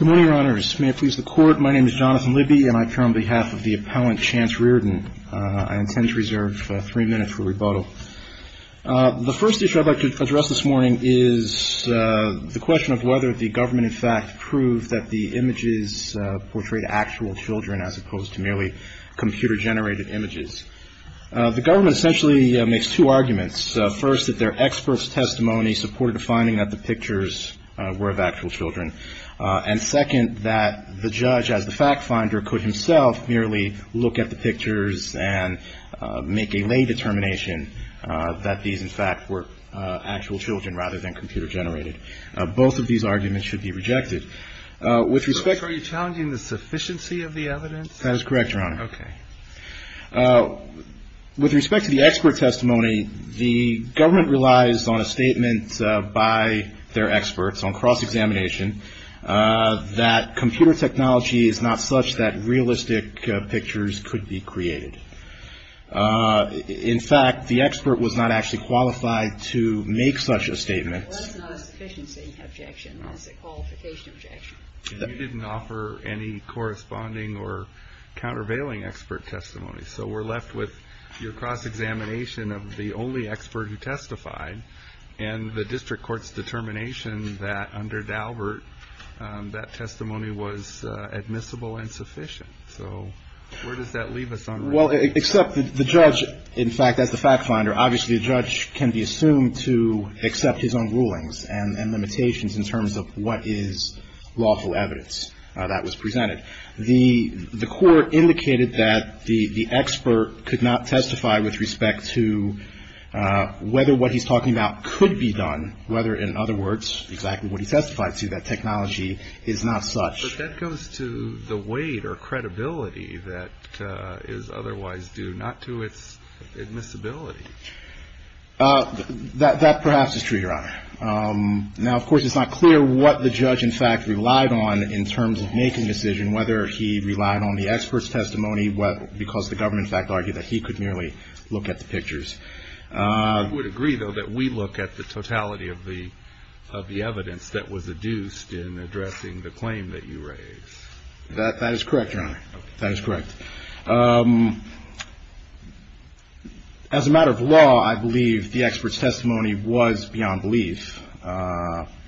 Good morning, your honors. May it please the court, my name is Jonathan Libby and I appear on behalf of the appellant Chance Rearden. I intend to reserve three minutes for rebuttal. The first issue I'd like to address this morning is the question of whether the government in fact proved that the images portrayed actual children as opposed to merely computer generated images. The government essentially makes two arguments. First, that their expert's testimony supported a finding that the pictures were of actual children. And second, that the judge as the fact finder could himself merely look at the pictures and make a lay determination that these in fact were actual children rather than computer generated. Both of these arguments should be rejected. With respect to Are you challenging the sufficiency of the evidence? That is correct, your honor. Okay. With respect to the expert testimony, the government relies on a statement by their experts on cross-examination that computer technology is not such that realistic pictures could be created. In fact, the expert was not actually qualified to make such a statement. Well that's not a sufficiency objection, that's a qualification objection. You didn't offer any corresponding or countervailing expert testimony. So we're left with your cross-examination of the only expert who testified and the district court's determination that under Daubert that testimony was admissible and sufficient. So where does that leave us? Well, except the judge, in fact, as the fact finder, obviously the judge can be assumed to accept his own rulings and limitations in terms of what is lawful evidence that was presented. The court indicated that the expert could not testify with respect to whether what he's talking about could be done, whether in other words exactly what he testified to, that technology is not such. But that goes to the weight or credibility that is otherwise due, not to its admissibility. That perhaps is true, Your Honor. Now, of course, it's not clear what the judge, in fact, relied on in terms of making a decision, whether he relied on the expert's testimony because the government, in fact, argued that he could merely look at the pictures. I would agree, though, that we look at the totality of the evidence that was adduced in addressing the claim that you raised. That is correct, Your Honor. That is correct. As a matter of law, I believe the expert's testimony was beyond belief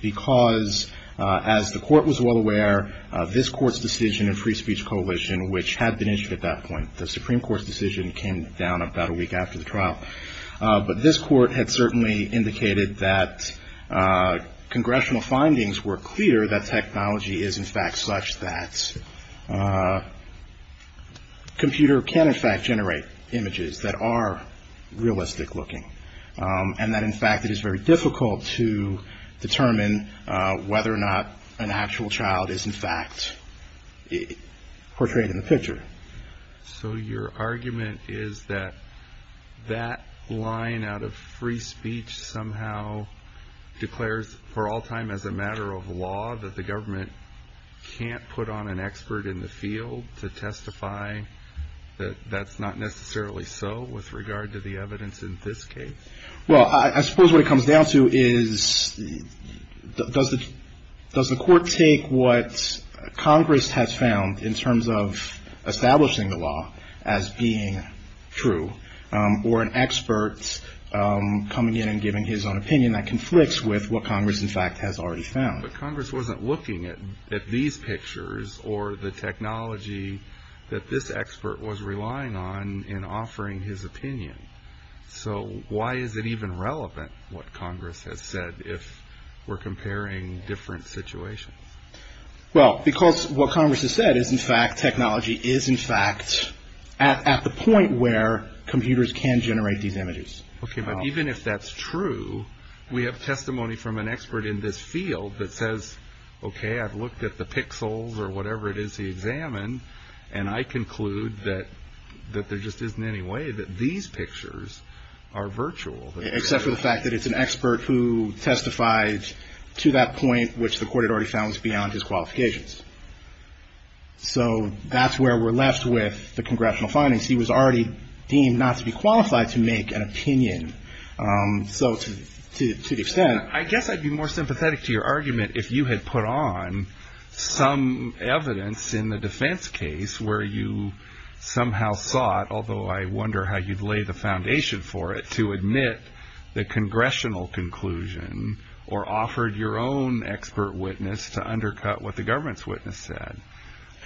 because as the court was well aware, this court's decision in Free Speech Coalition, which had been issued at that point, the Supreme Court's decision came down about a week after the trial. But this court had certainly indicated that congressional findings were clear that technology is, in fact, such that computer can, in fact, portray it in the picture. So your argument is that that line out of free speech somehow declares for all time, as a matter of law, that the government can't put on an expert in the field to testify that that's not necessarily so with regard to the evidence in this case? Well, I suppose what it comes down to is does the court take what Congress has found in terms of establishing the law as being true, or an expert coming in and giving his own opinion that conflicts with what Congress, in fact, has already found? But Congress wasn't looking at these pictures or the technology that this expert was relying on in offering his opinion. So why is it even relevant what Congress has said if we're comparing different situations? Well, because what Congress has said is, in fact, technology is, in fact, at the point where computers can generate these images. Okay, but even if that's true, we have testimony from an expert in this field that says, okay, I've looked at the pixels or whatever it is he examined, and I conclude that there just isn't any way that these pictures are virtual. Except for the fact that it's an expert who testified to that point which the court had already found was beyond his qualifications. So that's where we're left with the congressional findings. He was already deemed not to be qualified to make an opinion. So to the extent... I guess I'd be more sympathetic to your argument if you had put on some evidence in the defense case where you somehow sought, although I wonder how you'd lay the foundation for it, to admit the congressional conclusion or offered your own expert witness to undercut what the government's witness said.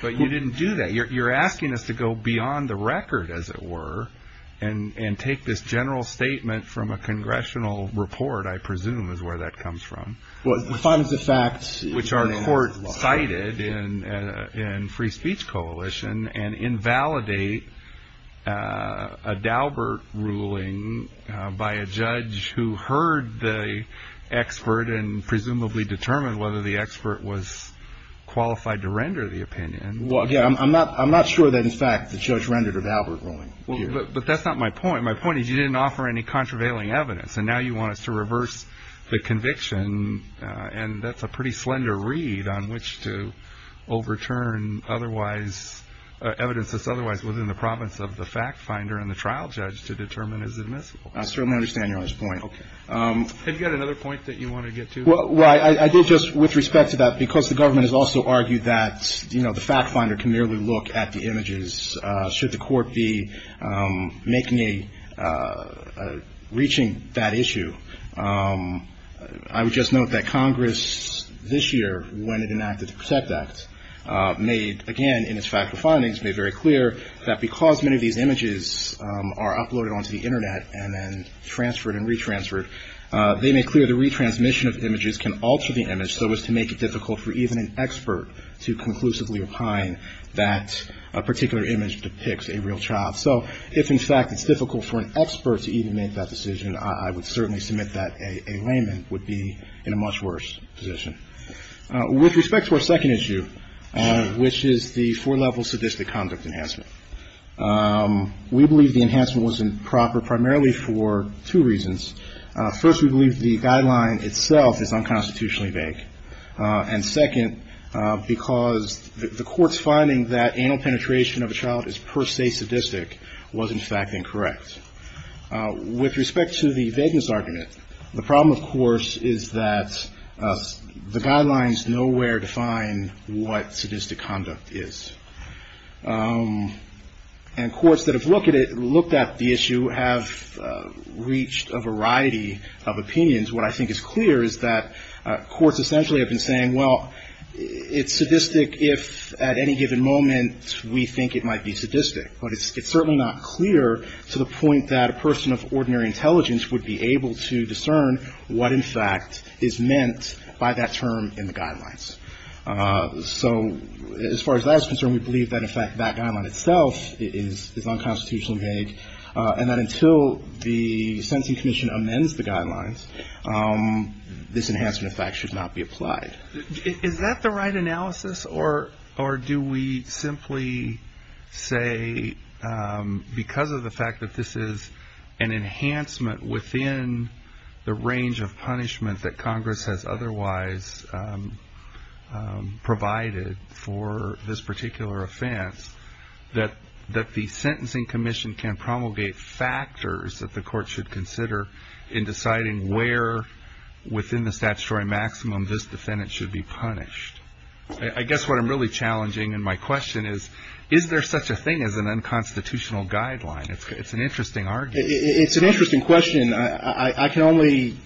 But you didn't do that. You're asking us to go beyond the record, as it were, and take this general statement from a congressional report, I presume, is where that comes from, which our court cited in Free Speech Coalition, and invalidate a Daubert ruling by a judge who heard the expert and presumably determined whether the expert was qualified to render the opinion. Well, again, I'm not sure that, in fact, the judge rendered a Daubert ruling here. But that's not my point. My point is you didn't offer any contravailing evidence. And now you want us to reverse the conviction. And that's a pretty slender read on which to overturn otherwise, evidence that's otherwise within the province of the fact finder and the trial judge to determine as admissible. I certainly understand Your Honor's point. Okay. Have you got another point that you want to get to? Well, I did just, with respect to that, because the government has also argued that, you know, the fact finder can merely look at the images should the court be making a ‑‑ reaching that issue. I would just note that Congress this year, when it enacted the Protect Act, made, again, in its factual findings, made very clear that because many of these images are uploaded onto the Internet and then transferred and retransferred, they make clear the retransmission of images can alter the image so as to make it difficult for even an expert to conclusively opine that a particular image depicts a real child. So if, in fact, it's difficult for an expert to even make that decision, I would certainly submit that a layman would be in a much worse position. With respect to our second issue, which is the four-level sadistic conduct enhancement, we believe the enhancement was improper primarily for two reasons. First, we believe the guideline itself is unconstitutionally vague. And second, because the court's finding that anal penetration of a child is per se sadistic was, in fact, incorrect. With respect to the vagueness argument, the problem, of course, is that the guidelines nowhere define what sadistic conduct is. And courts that have looked at it, looked at the issue, have reached a variety of opinions. What I think is clear is that courts essentially have been saying, well, it's sadistic if at any given moment we think it might be sadistic. But it's certainly not clear to the point that a person of ordinary intelligence would be able to discern what, in fact, is meant by that term in the guidelines. So as far as that is concerned, we believe that, in fact, that guideline itself is unconstitutionally vague, and that until the sentencing commission amends the guidelines, this enhancement, in fact, should not be applied. Is that the right analysis, or do we simply say because of the fact that this is an enhancement within the range of punishment that Congress has otherwise provided for this particular offense that the sentencing commission can promulgate factors that the court should consider in deciding where within the statutory maximum this defendant should be punished? I guess what I'm really challenging in my question is, is there such a thing as an unconstitutional guideline? It's an interesting argument. It's an interesting question. I can only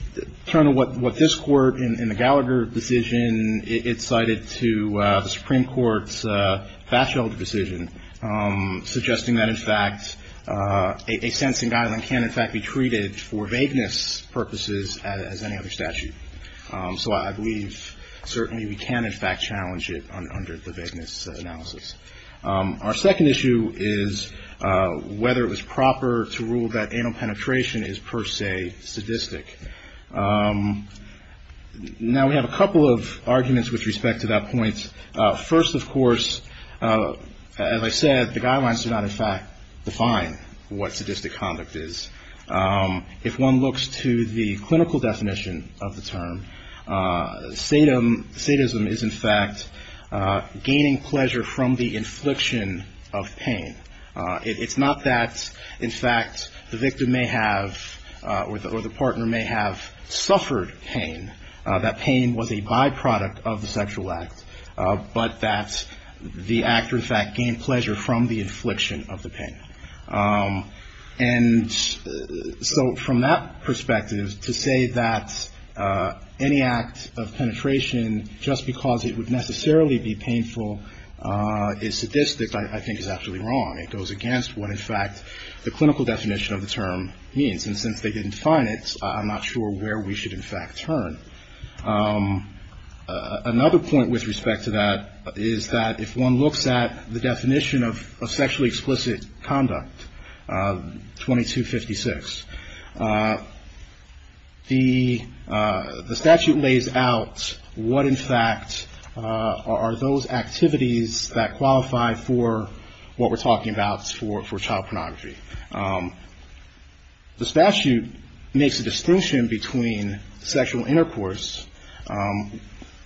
turn to what this Court, in the Gallagher decision, it cited to the Supreme Court's Batchelder decision, suggesting that, in fact, a sentencing guideline can, in fact, be treated for vagueness purposes as any other statute. So I believe certainly we can, in fact, challenge it under the vagueness analysis. Our second issue is whether it was proper to rule that anal penetration is, per se, sadistic. Now, we have a couple of arguments with respect to that point. First, of course, as I said, the guidelines do not, in fact, define what sadistic conduct is. If one looks to the clinical definition of the term, sadism is, in fact, gaining pleasure from the infliction of pain. It's not that, in fact, the victim may have or the partner may have suffered pain, that pain was a byproduct of the sexual act, but that the actor, in fact, gained pleasure from the infliction of the pain. And so from that perspective, to say that any act of penetration, just because it would necessarily be painful, is sadistic, I think is absolutely wrong. It goes against what, in fact, the clinical definition of the term means, and since they didn't define it, I'm not sure where we should, in fact, turn. Another point with respect to that is that if one looks at the definition of sexually explicit conduct, 2256, the statute lays out what, in fact, are those activities that qualify for what we're talking about for child pornography. The statute makes a distinction between sexual intercourse,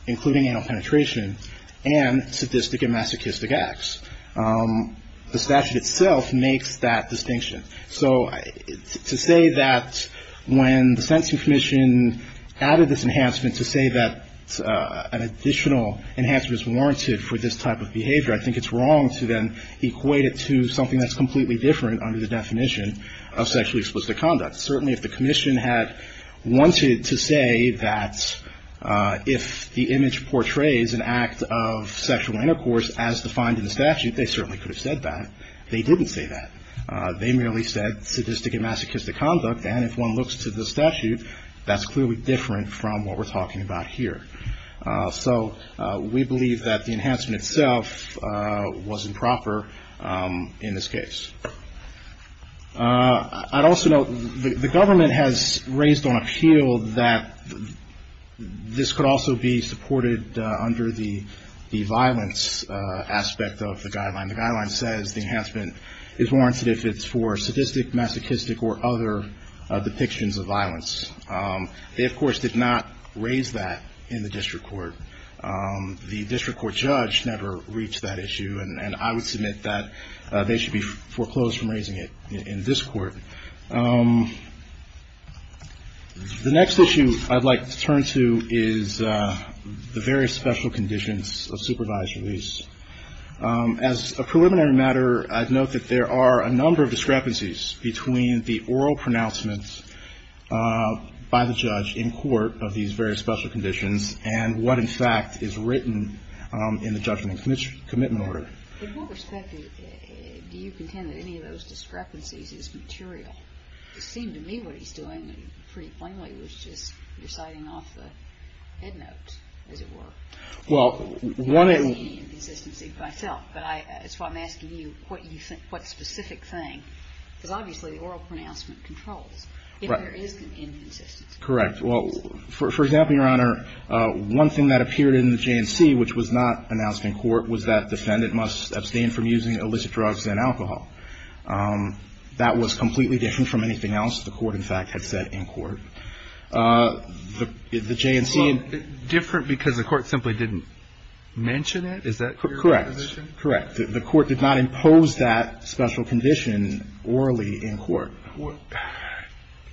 including anal penetration, and sadistic and masochistic acts. The statute itself makes that distinction. So to say that when the Sentencing Commission added this enhancement to say that an additional enhancement is warranted for this type of behavior, I think it's wrong to then equate it to something that's completely different under the definition of sexually explicit conduct. Certainly if the commission had wanted to say that if the image portrays an act of sexual intercourse as defined in the statute, they certainly could have said that. They didn't say that. They merely said sadistic and masochistic conduct, and if one looks to the statute, that's clearly different from what we're talking about here. So we believe that the enhancement itself was improper in this case. I'd also note the government has raised on appeal that this could also be supported under the violence aspect of the guideline. The guideline says the enhancement is warranted if it's for sadistic, masochistic, or other depictions of violence. They, of course, did not raise that in the district court. The district court judge never reached that issue, and I would submit that they should be foreclosed from raising it in this court. The next issue I'd like to turn to is the various special conditions of supervised release. As a preliminary matter, I'd note that there are a number of discrepancies between the oral pronouncements, the oral statements, and the oral statements by the judge in court of these various special conditions, and what, in fact, is written in the judgment and commitment order. In what respect do you contend that any of those discrepancies is material? It seemed to me what he's doing, pretty plainly, was just reciting off the headnotes, as it were. Well, one of the... I don't have any inconsistency myself, but it's why I'm asking you what specific thing, because obviously the oral pronouncement controls if there is inconsistency. Correct. Well, for example, Your Honor, one thing that appeared in the J&C which was not announced in court was that defendant must abstain from using illicit drugs and alcohol. That was completely different from anything else the court, in fact, had said in court. The J&C... Well, different because the court simply didn't mention it? Is that your imposition? Correct. Correct. The court did not impose that special condition orally in court.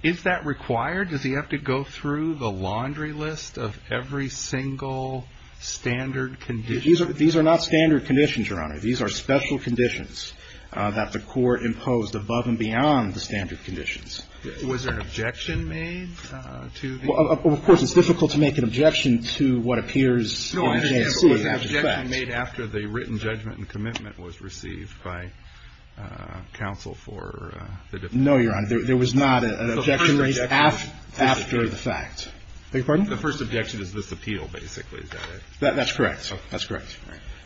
Is that required? Does he have to go through the laundry list of every single standard condition? These are not standard conditions, Your Honor. These are special conditions that the court imposed above and beyond the standard conditions. Was there an objection made to the... No, Your Honor, there was not an objection made after the fact. The first objection is this appeal, basically, is that right? That's correct. That's correct.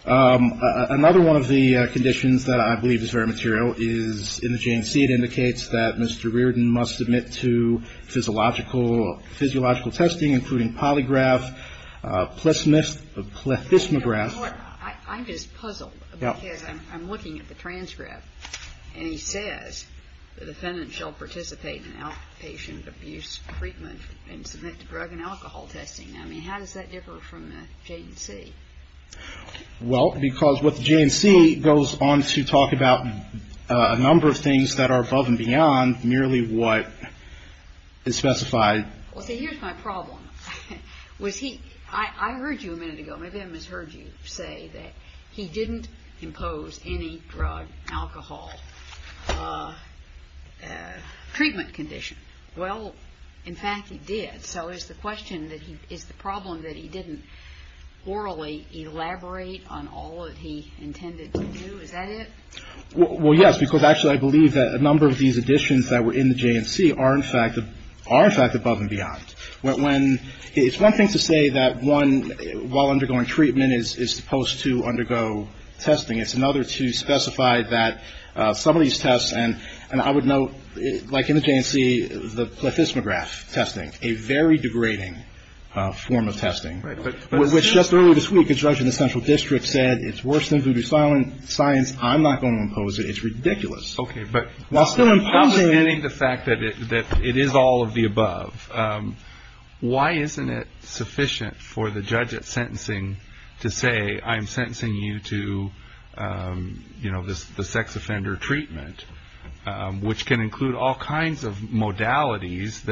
Another one of the conditions that I believe is very material is in the J&C it indicates that Mr. Reardon must submit to physiological testing including polygraph, plethysmograph... I'm just puzzled because I'm looking at the transcript and he says the defendant shall participate in outpatient abuse treatment and submit to drug and alcohol testing. I mean, how does that differ from the J&C? Well, because what the J&C goes on to talk about a number of things that are above and beyond merely what is specified in the J&C. Well, see, here's my problem. Was he – I heard you a minute ago, maybe I misheard you say that he didn't impose any drug, alcohol treatment condition. Well, in fact, he did. So is the question that he – is the problem that he didn't orally elaborate on all that he intended to do? Is that it? Well, yes, because actually I believe that a number of these additions that were in the J&C are, in fact, above and beyond. When – it's one thing to say that one, while undergoing treatment, is supposed to undergo testing. It's another to specify that some of these tests – and I would note, like in the J&C, the plethysmograph testing, a very degrading form of testing. Which just earlier this week, a judge in the central district said, it's worse than voodoo science, I'm not going to impose it, it's ridiculous. While still imposing it – Okay, but I'm not denying the fact that it is all of the above. Why isn't it sufficient for the judge at sentencing to say, I'm sentencing you to, you know, the sex offender treatment, which can include all kinds of modalities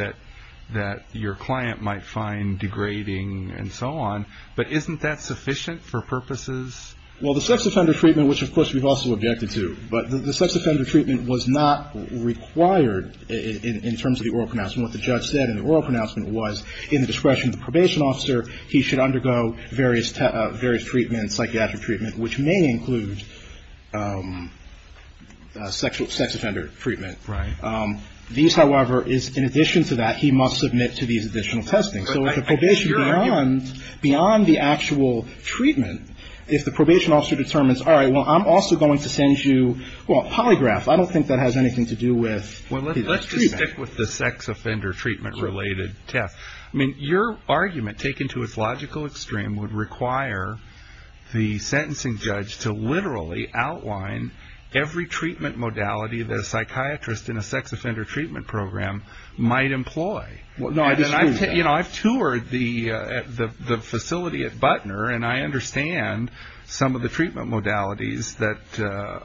that your client might find degrading and so on. But isn't that sufficient for purposes? Well, the sex offender treatment, which of course we've also objected to, but the sex offender treatment was not required in terms of the oral pronouncement. What the judge said in the oral pronouncement was, in the discretion of the probation officer, he should undergo various treatments, psychiatric treatment, which may include sexual – sex offender treatment. Right. These, however, is in addition to that, he must submit to these additional testings. So if the probation – beyond the actual treatment, if the probation officer determines, all right, well, I'm also going to send you, well, a polygraph. I don't think that has anything to do with treatment. Well, let's just stick with the sex offender treatment-related test. I mean, your argument, taken to its logical extreme, would require the sentencing judge to literally outline every treatment modality that a psychiatrist in a sex offender treatment program might employ. You know, I've toured the facility at Butner, and I understand some of the treatment modalities that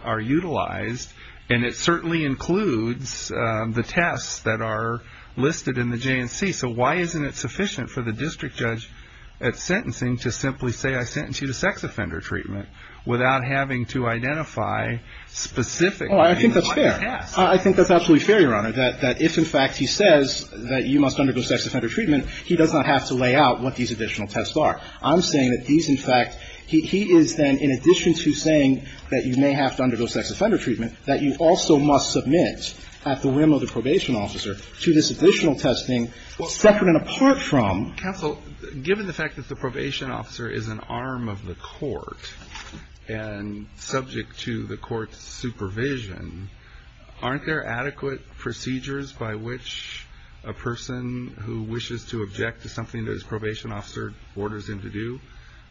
are utilized, and it certainly includes the tests that are listed in the J&C. So why isn't it sufficient for the district judge at sentencing to simply say, I sentence you to sex offender treatment, without having to identify specific – Oh, I think that's fair. I think that's absolutely fair, Your Honor, that if, in fact, he says that you must undergo sex offender treatment, he does not have to lay out what these additional tests are. I'm saying that these, in fact, he is then, in addition to saying that you may have to undergo sex offender treatment, that you also must submit, at the whim of the probation officer, to this additional testing separate and apart from – Counsel, given the fact that the probation officer is an arm of the court and subject to the court's supervision, aren't there adequate procedures by which a person who wishes to object to something that his probation officer orders him to do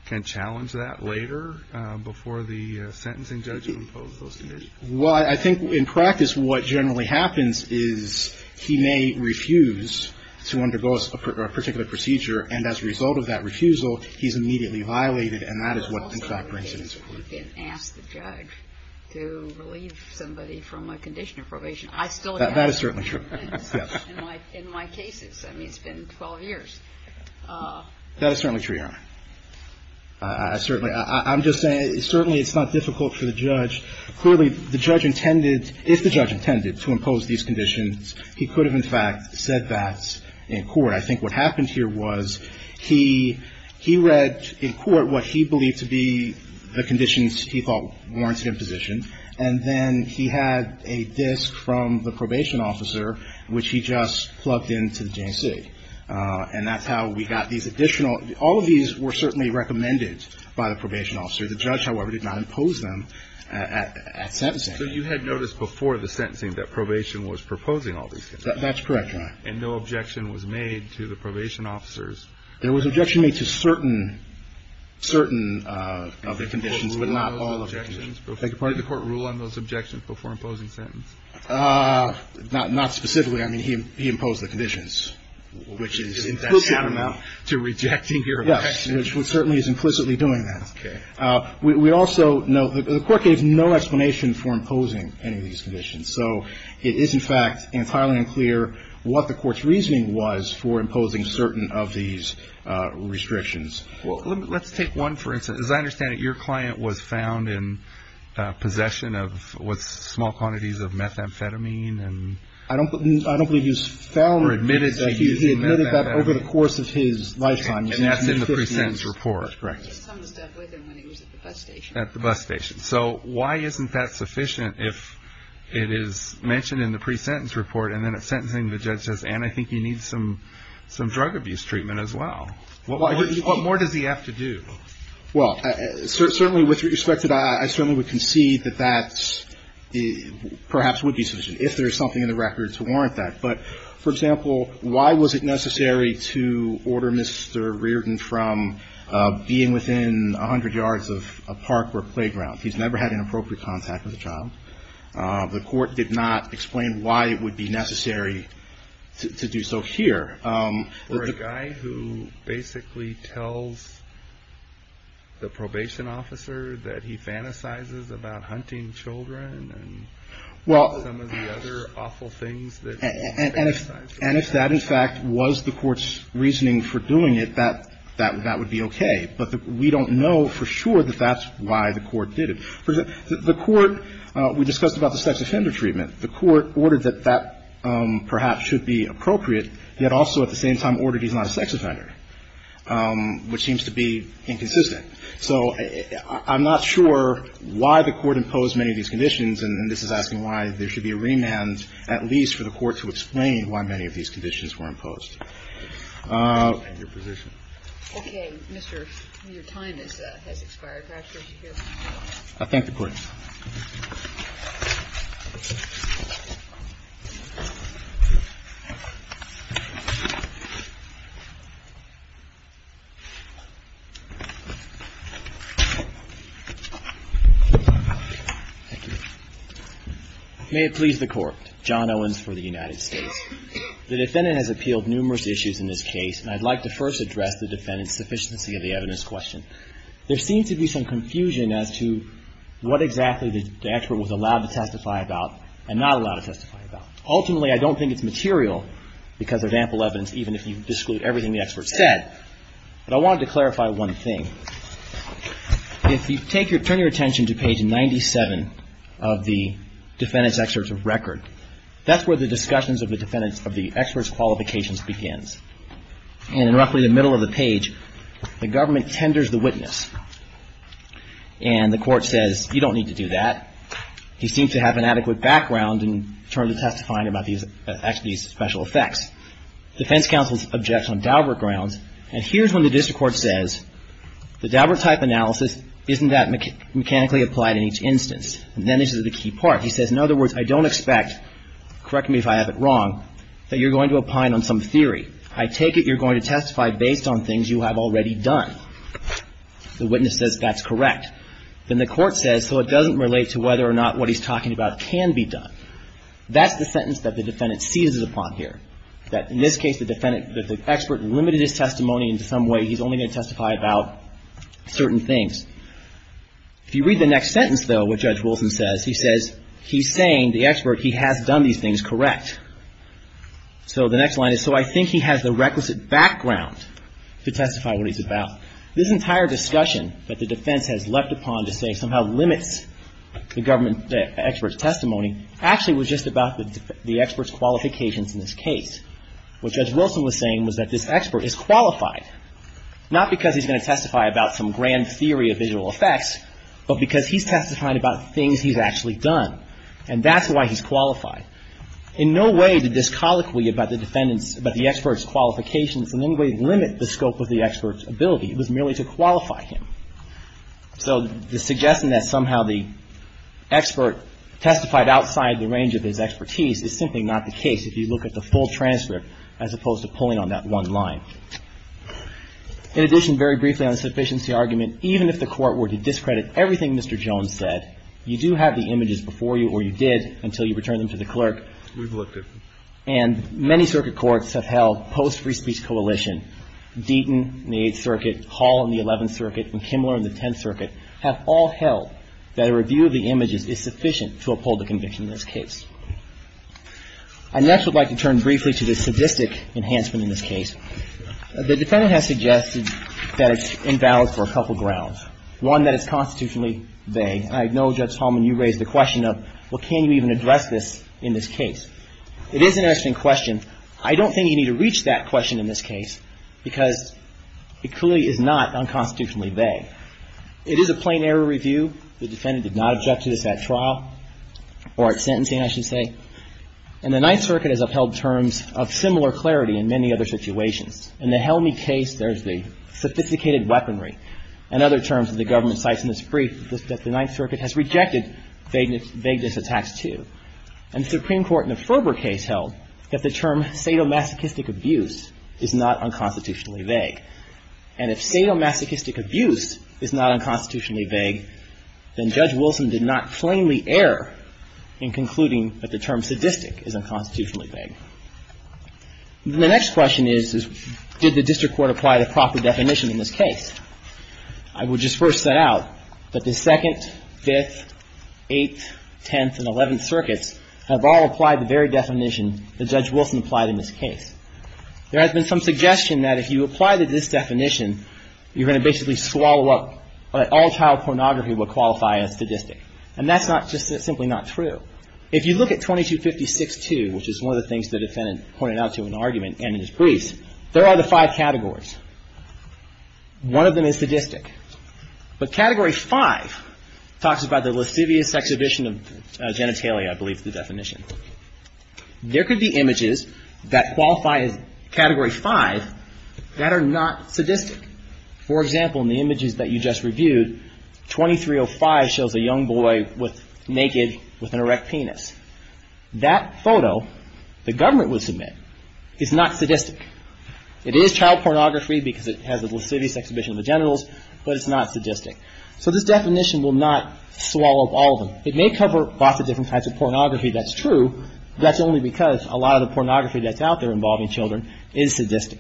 can challenge that later, before the sentencing judge can impose those conditions? Well, I think, in practice, what generally happens is he may refuse to undergo a particular procedure, and as a result of that refusal, he's immediately violated, and that is what, in fact, brings an incident to court. You can ask the judge to relieve somebody from a condition of probation. That is certainly true. Yes. In my cases. I mean, it's been 12 years. That is certainly true, Your Honor. Certainly. I'm just saying, certainly it's not difficult for the judge. Clearly, the judge intended – if the judge intended to impose these conditions, he could have, in fact, said that in court. I think what happened here was he read in court what he believed to be the conditions he thought warranted imposition, and then he had a disk from the probation officer, which he just plugged into the J&C. And that's how we got these additional – all of these were certainly recommended by the probation officer. The judge, however, did not impose them at sentencing. So you had noticed before the sentencing that probation was proposing all these conditions? That's correct, Your Honor. And no objection was made to the probation officers? There was objection made to certain – certain of the conditions, but not all of the conditions. Did the court rule on those objections before imposing sentence? Not – not specifically. I mean, he imposed the conditions, which is – Is that count amount to rejecting your objection? Yes, which certainly is implicitly doing that. Okay. We also know – the court gave no explanation for imposing any of these conditions. So it is, in fact, entirely unclear what the court's reasoning was for imposing certain of these restrictions. Well, let's take one for instance. As I understand it, your client was found in possession of what's small quantities of methamphetamine and – I don't – I don't believe he was found – Or admitted that he was using methamphetamine. He admitted that over the course of his lifetime. And that's in the pre-sentence report. Correct. He was coming to stay with him when he was at the bus station. At the bus station. So why isn't that sufficient if it is mentioned in the pre-sentence report and then at sentencing the judge says, Ann, I think you need some – some drug abuse treatment as well? What more does he have to do? Well, certainly with respect to that, I certainly would concede that that perhaps would be sufficient, if there is something in the record to warrant that. But, for example, why was it necessary to order Mr. Reardon from being within 100 yards of a park or playground? He's never had inappropriate contact with a child. The court did not explain why it would be necessary to do so here. Or a guy who basically tells the probation officer that he fantasizes about hunting children and some of the other awful things that – And if that, in fact, was the court's reasoning for doing it, that would be okay. But we don't know for sure that that's why the court did it. The court – we discussed about the sex offender treatment. The court ordered that that perhaps should be appropriate, yet also at the same time ordered he's not a sex offender, which seems to be inconsistent. So I'm not sure why the court imposed many of these conditions. And this is asking why there should be a remand at least for the court to explain why many of these conditions were imposed. And your position? Okay. Mr. – your time has expired. I thank the Court. May it please the Court. John Owens for the United States. The defendant has appealed numerous issues in this case, and I'd like to first address the defendant's sufficiency of the evidence question. There seems to be some confusion as to what exactly the expert was allowed to testify about and not allowed to testify about. Ultimately, I don't think it's material because of ample evidence, even if you exclude everything the expert said. But I wanted to clarify one thing. If you take your – turn your attention to page 97 of the defendant's excerpt of record, that's where the discussions of the defendant's – of the expert's qualifications begins. And in roughly the middle of the page, the government tenders the witness. And the court says, you don't need to do that. He seems to have an adequate background in terms of testifying about these special effects. The defense counsel objects on Daubert grounds. And here's when the district court says, the Daubert-type analysis isn't that mechanically applied in each instance. And then this is the key part. He says, in other words, I don't expect – correct me if I have it wrong – that you're going to opine on some theory. I take it you're going to testify based on things you have already done. The witness says that's correct. Then the court says, so it doesn't relate to whether or not what he's talking about can be done. That's the sentence that the defendant seizes upon here. That in this case, the defendant – the expert limited his testimony in some way. He's only going to testify about certain things. If you read the next sentence, though, what Judge Wilson says, he says, he's saying, the expert, he has done these things correct. So the next line is, so I think he has the requisite background to testify what he's about. This entire discussion that the defense has leapt upon to say somehow limits the government expert's testimony, actually was just about the expert's qualifications in this case. What Judge Wilson was saying was that this expert is qualified, not because he's going to testify about some grand theory of visual effects, but because he's testifying about things he's actually done. And that's why he's qualified. In no way did this colloquy about the defendant's – about the expert's qualifications in any way limit the scope of the expert's ability. It was merely to qualify him. So the suggestion that somehow the expert testified outside the range of his expertise is simply not the case, if you look at the full transcript, as opposed to pulling on that one line. In addition, very briefly on the sufficiency argument, even if the Court were to discredit everything Mr. Jones said, you do have the images before you, or you did, until you return them to the clerk. We've looked at them. And many circuit courts have held, post-Free Speech Coalition, Deaton in the Eighth Circuit, Hall in the Eleventh Circuit, and Kimmler in the Tenth Circuit, have all held that a review of the images is sufficient to uphold the conviction in this case. I next would like to turn briefly to the sadistic enhancement in this case. The defendant has suggested that it's invalid for a couple grounds. One, that it's constitutionally vague. I know, Judge Hallman, you raised the question of, well, can you even address this in this case? It is an interesting question. I don't think you need to reach that question in this case because it clearly is not unconstitutionally vague. It is a plain error review. The defendant did not object to this at trial or at sentencing. I should say. And the Ninth Circuit has upheld terms of similar clarity in many other situations. In the Helmy case, there's the sophisticated weaponry and other terms that the government cites in this brief that the Ninth Circuit has rejected vagueness attacks to. And the Supreme Court in the Ferber case held that the term sadomasochistic abuse is not unconstitutionally vague. And if sadomasochistic abuse is not unconstitutionally vague, then Judge Wilson did not plainly err in concluding that the term sadistic is unconstitutionally vague. The next question is, did the district court apply the proper definition in this case? I would just first set out that the Second, Fifth, Eighth, Tenth and Eleventh Circuits have all applied the very definition that Judge Wilson applied in this case. There has been some suggestion that if you apply this definition, you're going to basically swallow up what all child pornography would qualify as sadistic. And that's not just simply not true. If you look at 2256-2, which is one of the things the defendant pointed out to in the argument and in his briefs, there are the five categories. One of them is sadistic. But Category 5 talks about the lascivious exhibition of genitalia, I believe is the definition. There could be images that qualify as Category 5 that are not sadistic. For example, in the images that you just reviewed, 2305 shows a young boy naked with an erect penis. That photo, the government would submit, is not sadistic. It is child pornography because it has a lascivious exhibition of the genitals, but it's not sadistic. So this definition will not swallow up all of them. It may cover lots of different types of pornography that's true, but that's only because a lot of the pornography that's out there involving children is sadistic.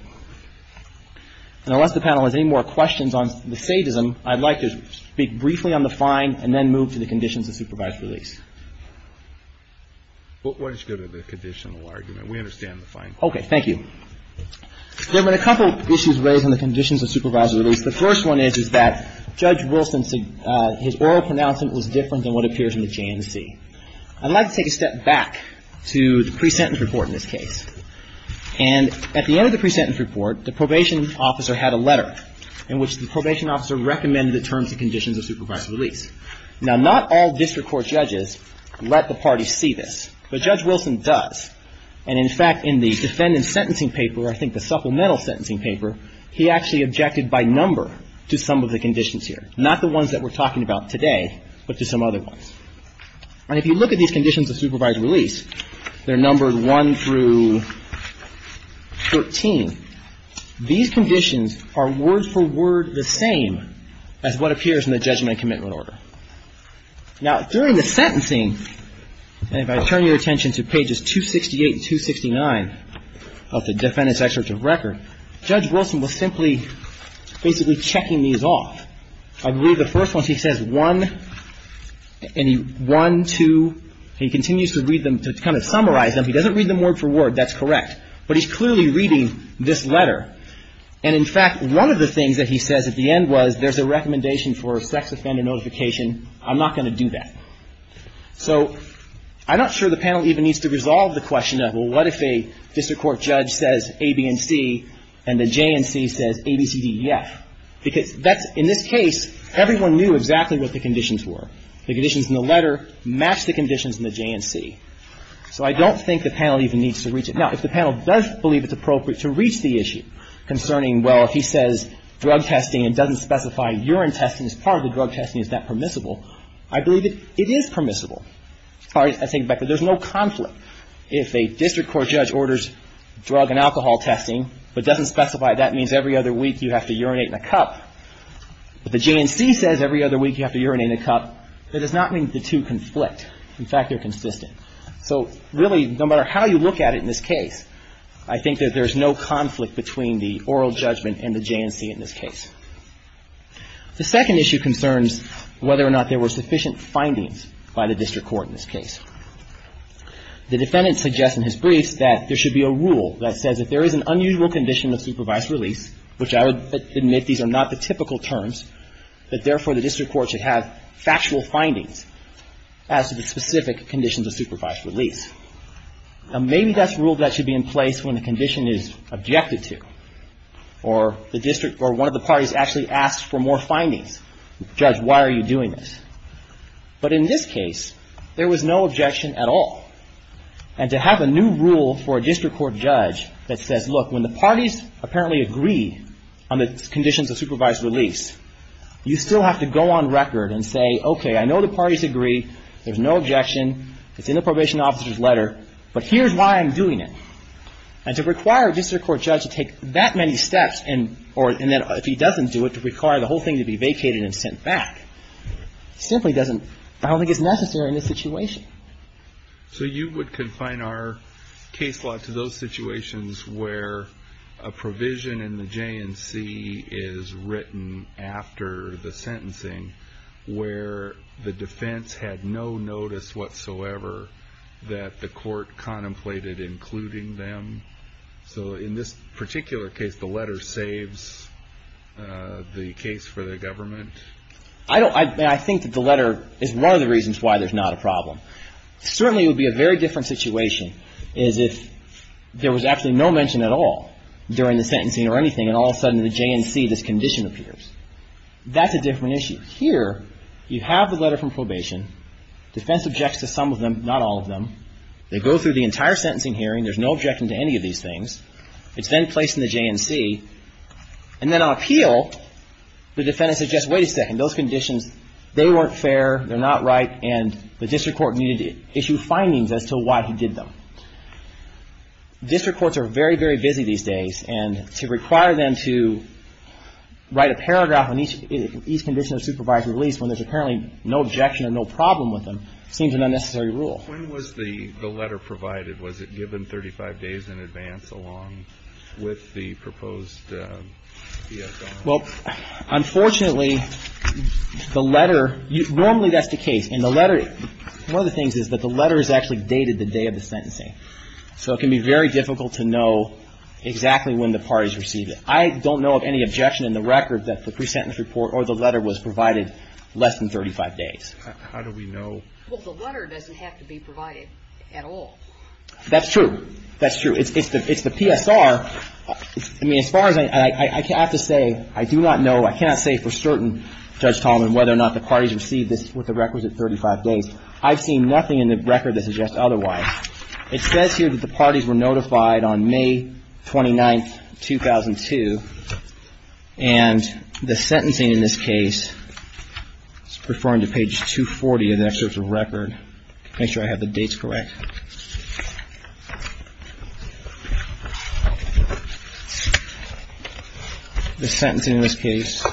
And unless the panel has any more questions on the sadism, I'd like to speak briefly on the fine and then move to the conditions of supervised release. Why don't you go to the conditional argument? We understand the fine. Okay. Thank you. There have been a couple of issues raised on the conditions of supervised release. The first one is, is that Judge Wilson, his oral pronouncement was different than what appears in the JNC. I'd like to take a step back to the pre-sentence report in this case. And at the end of the pre-sentence report, the probation officer had a letter in which the probation officer recommended the terms and conditions of supervised release. Now, not all district court judges let the parties see this, but Judge Wilson does. And in fact, in the defendant's sentencing paper, I think the supplemental sentencing paper, he actually objected by number to some of the conditions here. Not the ones that we're talking about today, but to some other ones. And if you look at these conditions of supervised release, they're numbered 1 through 13. These conditions are word for word the same as what appears in the judgment and commitment order. Now, during the sentencing, and if I turn your attention to pages 268 and 269 of the defendant's excerpt of record, Judge Wilson was simply basically checking these off. I believe the first one, he says 1 and 1, 2. He continues to read them to kind of summarize them. He doesn't read them word for word. That's correct. But he's clearly reading this letter. And in fact, one of the things that he says at the end was there's a recommendation for a sex offender notification. I'm not going to do that. So I'm not sure the panel even needs to resolve the question of, well, what if a district court judge says A, B, and C, and the J and C says A, B, C, D, E, F. Because that's, in this case, everyone knew exactly what the conditions were. The conditions in the letter match the conditions in the J and C. So I don't think the panel even needs to reach it. Now, if the panel does believe it's appropriate to reach the issue concerning, well, if he says drug testing and doesn't specify urine testing as part of the drug testing, is that permissible? I believe it is permissible. I think that there's no conflict. If a district court judge orders drug and alcohol testing but doesn't specify that means every other week you have to urinate in a cup, but the J and C says every other week you have to urinate in a cup, that does not mean the two conflict. In fact, they're consistent. So really, no matter how you look at it in this case, I think that there's no conflict between the oral judgment and the J and C in this case. The second issue concerns whether or not there were sufficient findings by the district court in this case. The defendant suggests in his briefs that there should be a rule that says if there is an unusual condition of supervised release, which I would admit these are not the typical terms, that therefore the district court should have factual findings as to the specific conditions of supervised release. Now, maybe that's a rule that should be in place when the condition is objected to, or one of the parties actually asks for more findings. Judge, why are you doing this? But in this case, there was no objection at all. And to have a new rule for a district court judge that says, look, when the parties apparently agree on the conditions of supervised release, you still have to go on record and say, okay, I know the parties agree, there's no objection, it's in the probation officer's letter, but here's why I'm doing it. And to require a district court judge to take that many steps, or if he doesn't do it, to require the whole thing to be vacated and sent back, simply doesn't, I don't think it's necessary in this situation. So you would confine our case law to those situations where a provision in the J&C is written after the sentencing, where the defense had no notice whatsoever that the court contemplated including them? So in this particular case, the letter saves the case for the government? I don't – I think that the letter is one of the reasons why there's not a problem. Certainly it would be a very different situation is if there was actually no mention at all during the sentencing or anything, and all of a sudden in the J&C this condition appears. That's a different issue. Here you have the letter from probation. Defense objects to some of them, not all of them. They go through the entire sentencing hearing. There's no objection to any of these things. It's then placed in the J&C. And then on appeal, the defendant says, just wait a second, those conditions, they weren't fair, they're not right, and the district court needed to issue findings as to why he did them. District courts are very, very busy these days, and to require them to write a paragraph on each condition of supervised release when there's apparently no objection or no problem with them seems an unnecessary rule. When was the letter provided? Was it given 35 days in advance along with the proposed DSR? Well, unfortunately, the letter – normally that's the case. One of the things is that the letter is actually dated the day of the sentencing. So it can be very difficult to know exactly when the parties received it. I don't know of any objection in the record that the pre-sentence report or the letter was provided less than 35 days. How do we know? Well, the letter doesn't have to be provided at all. That's true. That's true. It's the PSR. I mean, as far as I have to say, I do not know, I cannot say for certain, Judge Tallman, whether or not the parties received this with the records at 35 days. I've seen nothing in the record that suggests otherwise. It says here that the parties were notified on May 29, 2002, and the sentencing in this case – it's referring to page 240 of the excerpt of the record. Make sure I have the dates correct. The sentencing in this case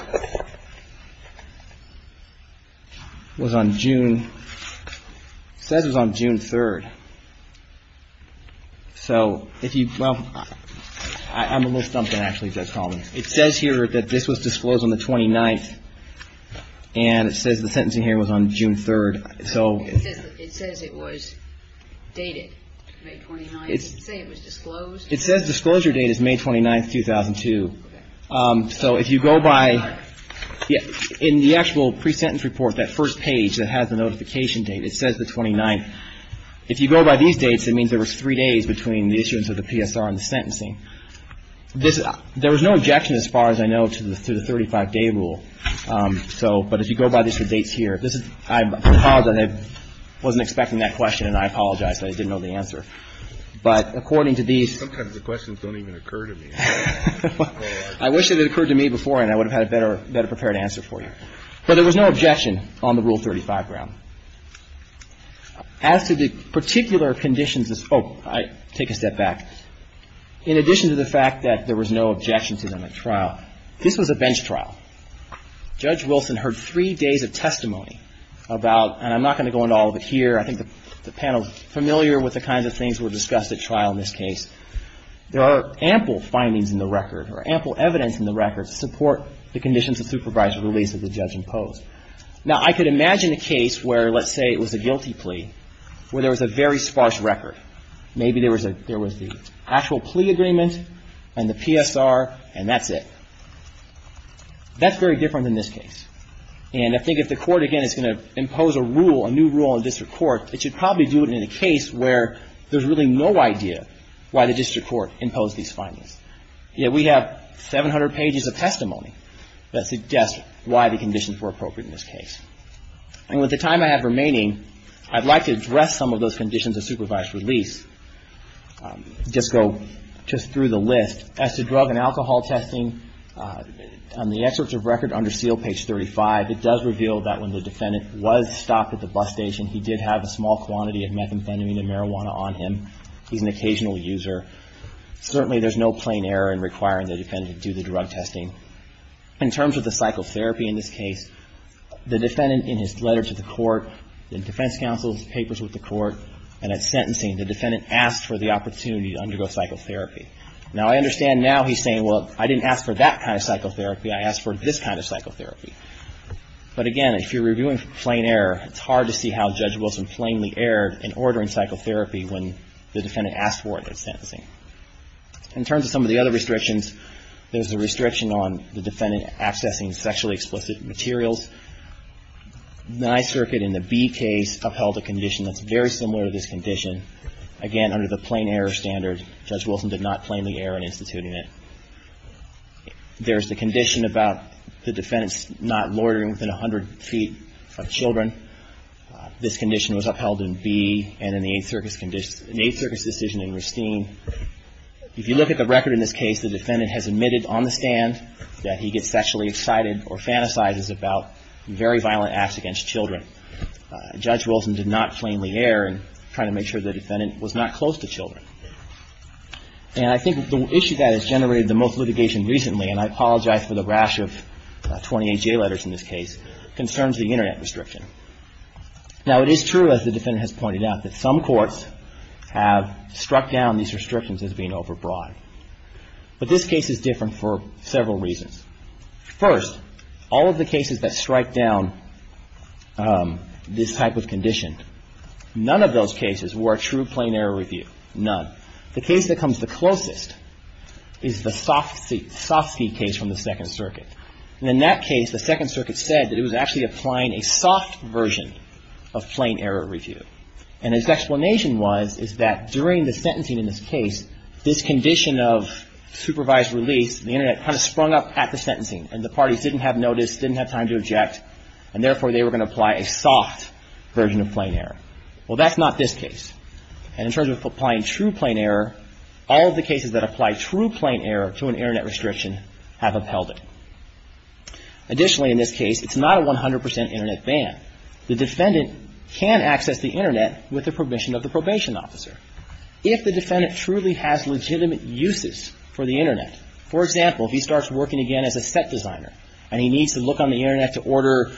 was on June – it says it was on June 3rd. So if you – well, I'm a little stumped actually, Judge Tallman. It says here that this was disclosed on the 29th, and it says the sentencing here was on June 3rd. It says it was dated May 29th. Does it say it was disclosed? It says disclosure date is May 29th, 2002. So if you go by – in the actual pre-sentence report, that first page that has the notification date, it says the 29th. If you go by these dates, it means there was three days between the issuance of the PSR and the sentencing. There was no objection as far as I know to the 35-day rule. So – but if you go by the dates here, this is – I apologize. I wasn't expecting that question, and I apologize that I didn't know the answer. But according to these – Sometimes the questions don't even occur to me. I wish that it occurred to me before, and I would have had a better prepared answer for you. But there was no objection on the Rule 35 ground. As to the particular conditions – oh, take a step back. In addition to the fact that there was no objection to the trial, this was a bench trial. Judge Wilson heard three days of testimony about – and I'm not going to go into all of it here. I think the panel is familiar with the kinds of things that were discussed at trial in this case. There are ample findings in the record or ample evidence in the record to support the conditions of supervised release that the judge imposed. Now, I could imagine a case where, let's say it was a guilty plea, where there was a very sparse record. Maybe there was a – there was the actual plea agreement and the PSR, and that's it. That's very different in this case. And I think if the court, again, is going to impose a rule, a new rule in a district court, it should probably do it in a case where there's really no idea why the district court imposed these findings. Yet we have 700 pages of testimony that suggests why the conditions were appropriate in this case. And with the time I have remaining, I'd like to address some of those conditions of supervised release. Just go just through the list. As to drug and alcohol testing, on the excerpts of record under seal, page 35, it does reveal that when the defendant was stopped at the bus station, he did have a small quantity of methamphetamine and marijuana on him. He's an occasional user. Certainly, there's no plain error in requiring the defendant to do the drug testing. In terms of the psychotherapy in this case, the defendant, in his letter to the court, in defense counsel's papers with the court, and at sentencing, the defendant asked for the opportunity to undergo psychotherapy. Now, I understand now he's saying, well, I didn't ask for that kind of psychotherapy. I asked for this kind of psychotherapy. But, again, if you're reviewing plain error, it's hard to see how Judge Wilson plainly erred in ordering psychotherapy when the defendant asked for it at sentencing. In terms of some of the other restrictions, there's the restriction on the defendant accessing sexually explicit materials. The Ninth Circuit, in the B case, upheld a condition that's very similar to this condition. Again, under the plain error standard, Judge Wilson did not plainly err in instituting it. There's the condition about the defendant's not loitering within 100 feet of children. This condition was upheld in B. And in the Eighth Circuit's decision in Ristine, if you look at the record in this case, the defendant has admitted on the stand that he gets sexually excited or fantasizes about very violent acts against children. Judge Wilson did not plainly err in trying to make sure the defendant was not close to children. And I think the issue that has generated the most litigation recently, and I apologize for the rash of 28 J letters in this case, concerns the Internet restriction. Now, it is true, as the defendant has pointed out, that some courts have struck down these restrictions as being overbroad. But this case is different for several reasons. First, all of the cases that strike down this type of condition, none of those cases were a true plain error review. None. The case that comes the closest is the Sofsky case from the Second Circuit. And in that case, the Second Circuit said that it was actually applying a soft version of plain error review. And its explanation was, is that during the sentencing in this case, this condition of supervised release, the Internet kind of sprung up at the sentencing, and the parties didn't have notice, didn't have time to object, and therefore they were going to apply a soft version of plain error. Well, that's not this case. And in terms of applying true plain error, all of the cases that apply true plain error to an Internet restriction have upheld it. Additionally, in this case, it's not a 100% Internet ban. The defendant can access the Internet with the permission of the probation officer. If the defendant truly has legitimate uses for the Internet, for example, if he starts working again as a set designer and he needs to look on the Internet to order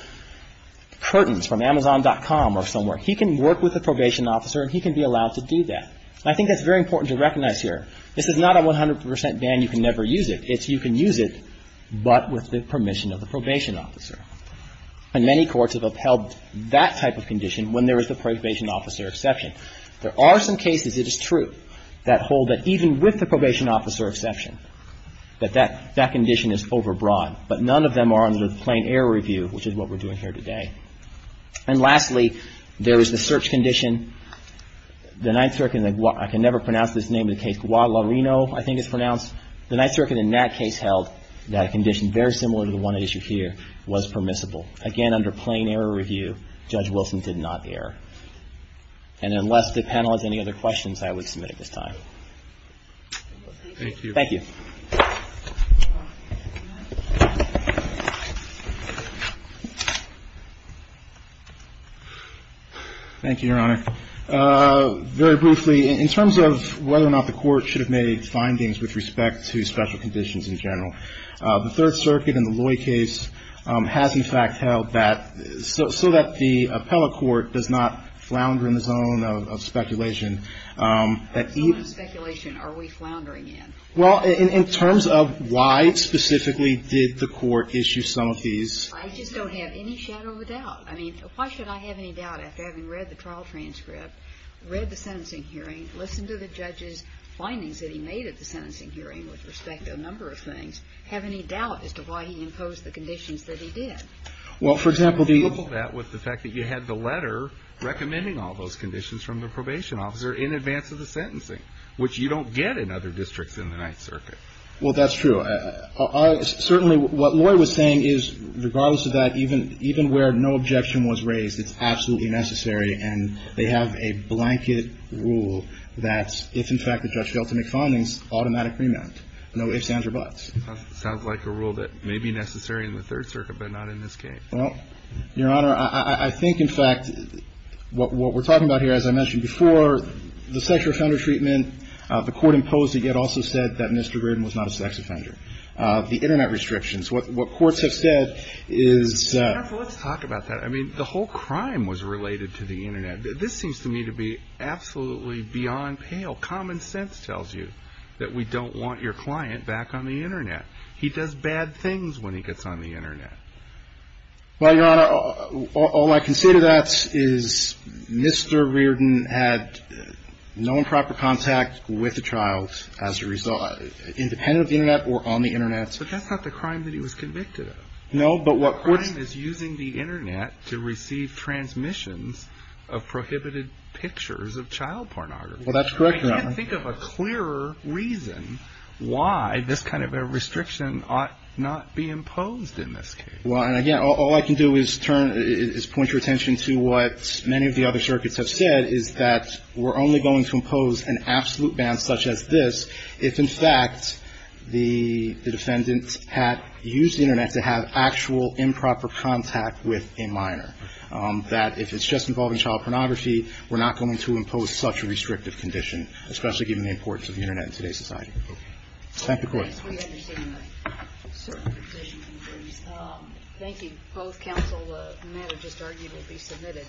curtains from Amazon.com or somewhere, he can work with the probation officer and he can be allowed to do that. And I think that's very important to recognize here. This is not a 100% ban. You can never use it. You can use it, but with the permission of the probation officer. And many courts have upheld that type of condition when there is the probation officer exception. There are some cases, it is true, that hold that even with the probation officer exception, that that condition is overbroad. But none of them are under the plain error review, which is what we're doing here today. And lastly, there is the search condition. The Ninth Circuit, I can never pronounce this name of the case, Guadalarrino, I think it's pronounced. The Ninth Circuit in that case held that condition, very similar to the one at issue here, was permissible. Again, under plain error review, Judge Wilson did not err. And unless the panel has any other questions, I would submit at this time. Thank you. Thank you. Thank you, Your Honor. Very briefly, in terms of whether or not the court should have made findings with respect to special conditions in general, the Third Circuit in the Loy case has, in fact, held that so that the appellate court does not flounder in the zone of speculation. What zone of speculation are we floundering in? Well, in terms of why specifically did the court issue some of these? I just don't have any shadow of a doubt. I mean, why should I have any doubt after having read the trial transcript, read the sentencing hearing, listened to the judge's findings that he made at the sentencing hearing with respect to a number of things, have any doubt as to why he imposed the conditions that he did? Well, for example, the — How do you couple that with the fact that you had the letter recommending all those conditions from the probation officer in advance of the sentencing, which you don't get in other districts in the Ninth Circuit? Well, that's true. Certainly what Loy was saying is, regardless of that, even where no objection was raised, it's absolutely necessary. And they have a blanket rule that if, in fact, the judge fails to make findings, automatic remand. No ifs, ands, or buts. Sounds like a rule that may be necessary in the Third Circuit, but not in this case. Well, Your Honor, I think, in fact, what we're talking about here, as I mentioned before, the sex offender treatment, the court imposed it, yet also said that Mr. Graydon was not a sex offender. The Internet restrictions, what courts have said is — Counsel, let's talk about that. I mean, the whole crime was related to the Internet. This seems to me to be absolutely beyond pale. Common sense tells you that we don't want your client back on the Internet. He does bad things when he gets on the Internet. Well, Your Honor, all I can say to that is Mr. Reardon had no improper contact with the child as a result, independent of the Internet or on the Internet. But that's not the crime that he was convicted of. No, but what courts — The crime is using the Internet to receive transmissions of prohibited pictures of child pornography. Well, that's correct, Your Honor. I can't think of a clearer reason why this kind of a restriction ought not be imposed in this case. Well, and again, all I can do is turn — is point your attention to what many of the other circuits have said, is that we're only going to impose an absolute ban such as this if, in fact, the defendant had used the Internet to have actual improper contact with a minor, that if it's just involving child pornography, we're not going to impose such a restrictive condition, especially given the importance of the Internet in today's society. Thank you. We understand that certain conditions exist. Thank you. Both counsel and that have just arguably been submitted.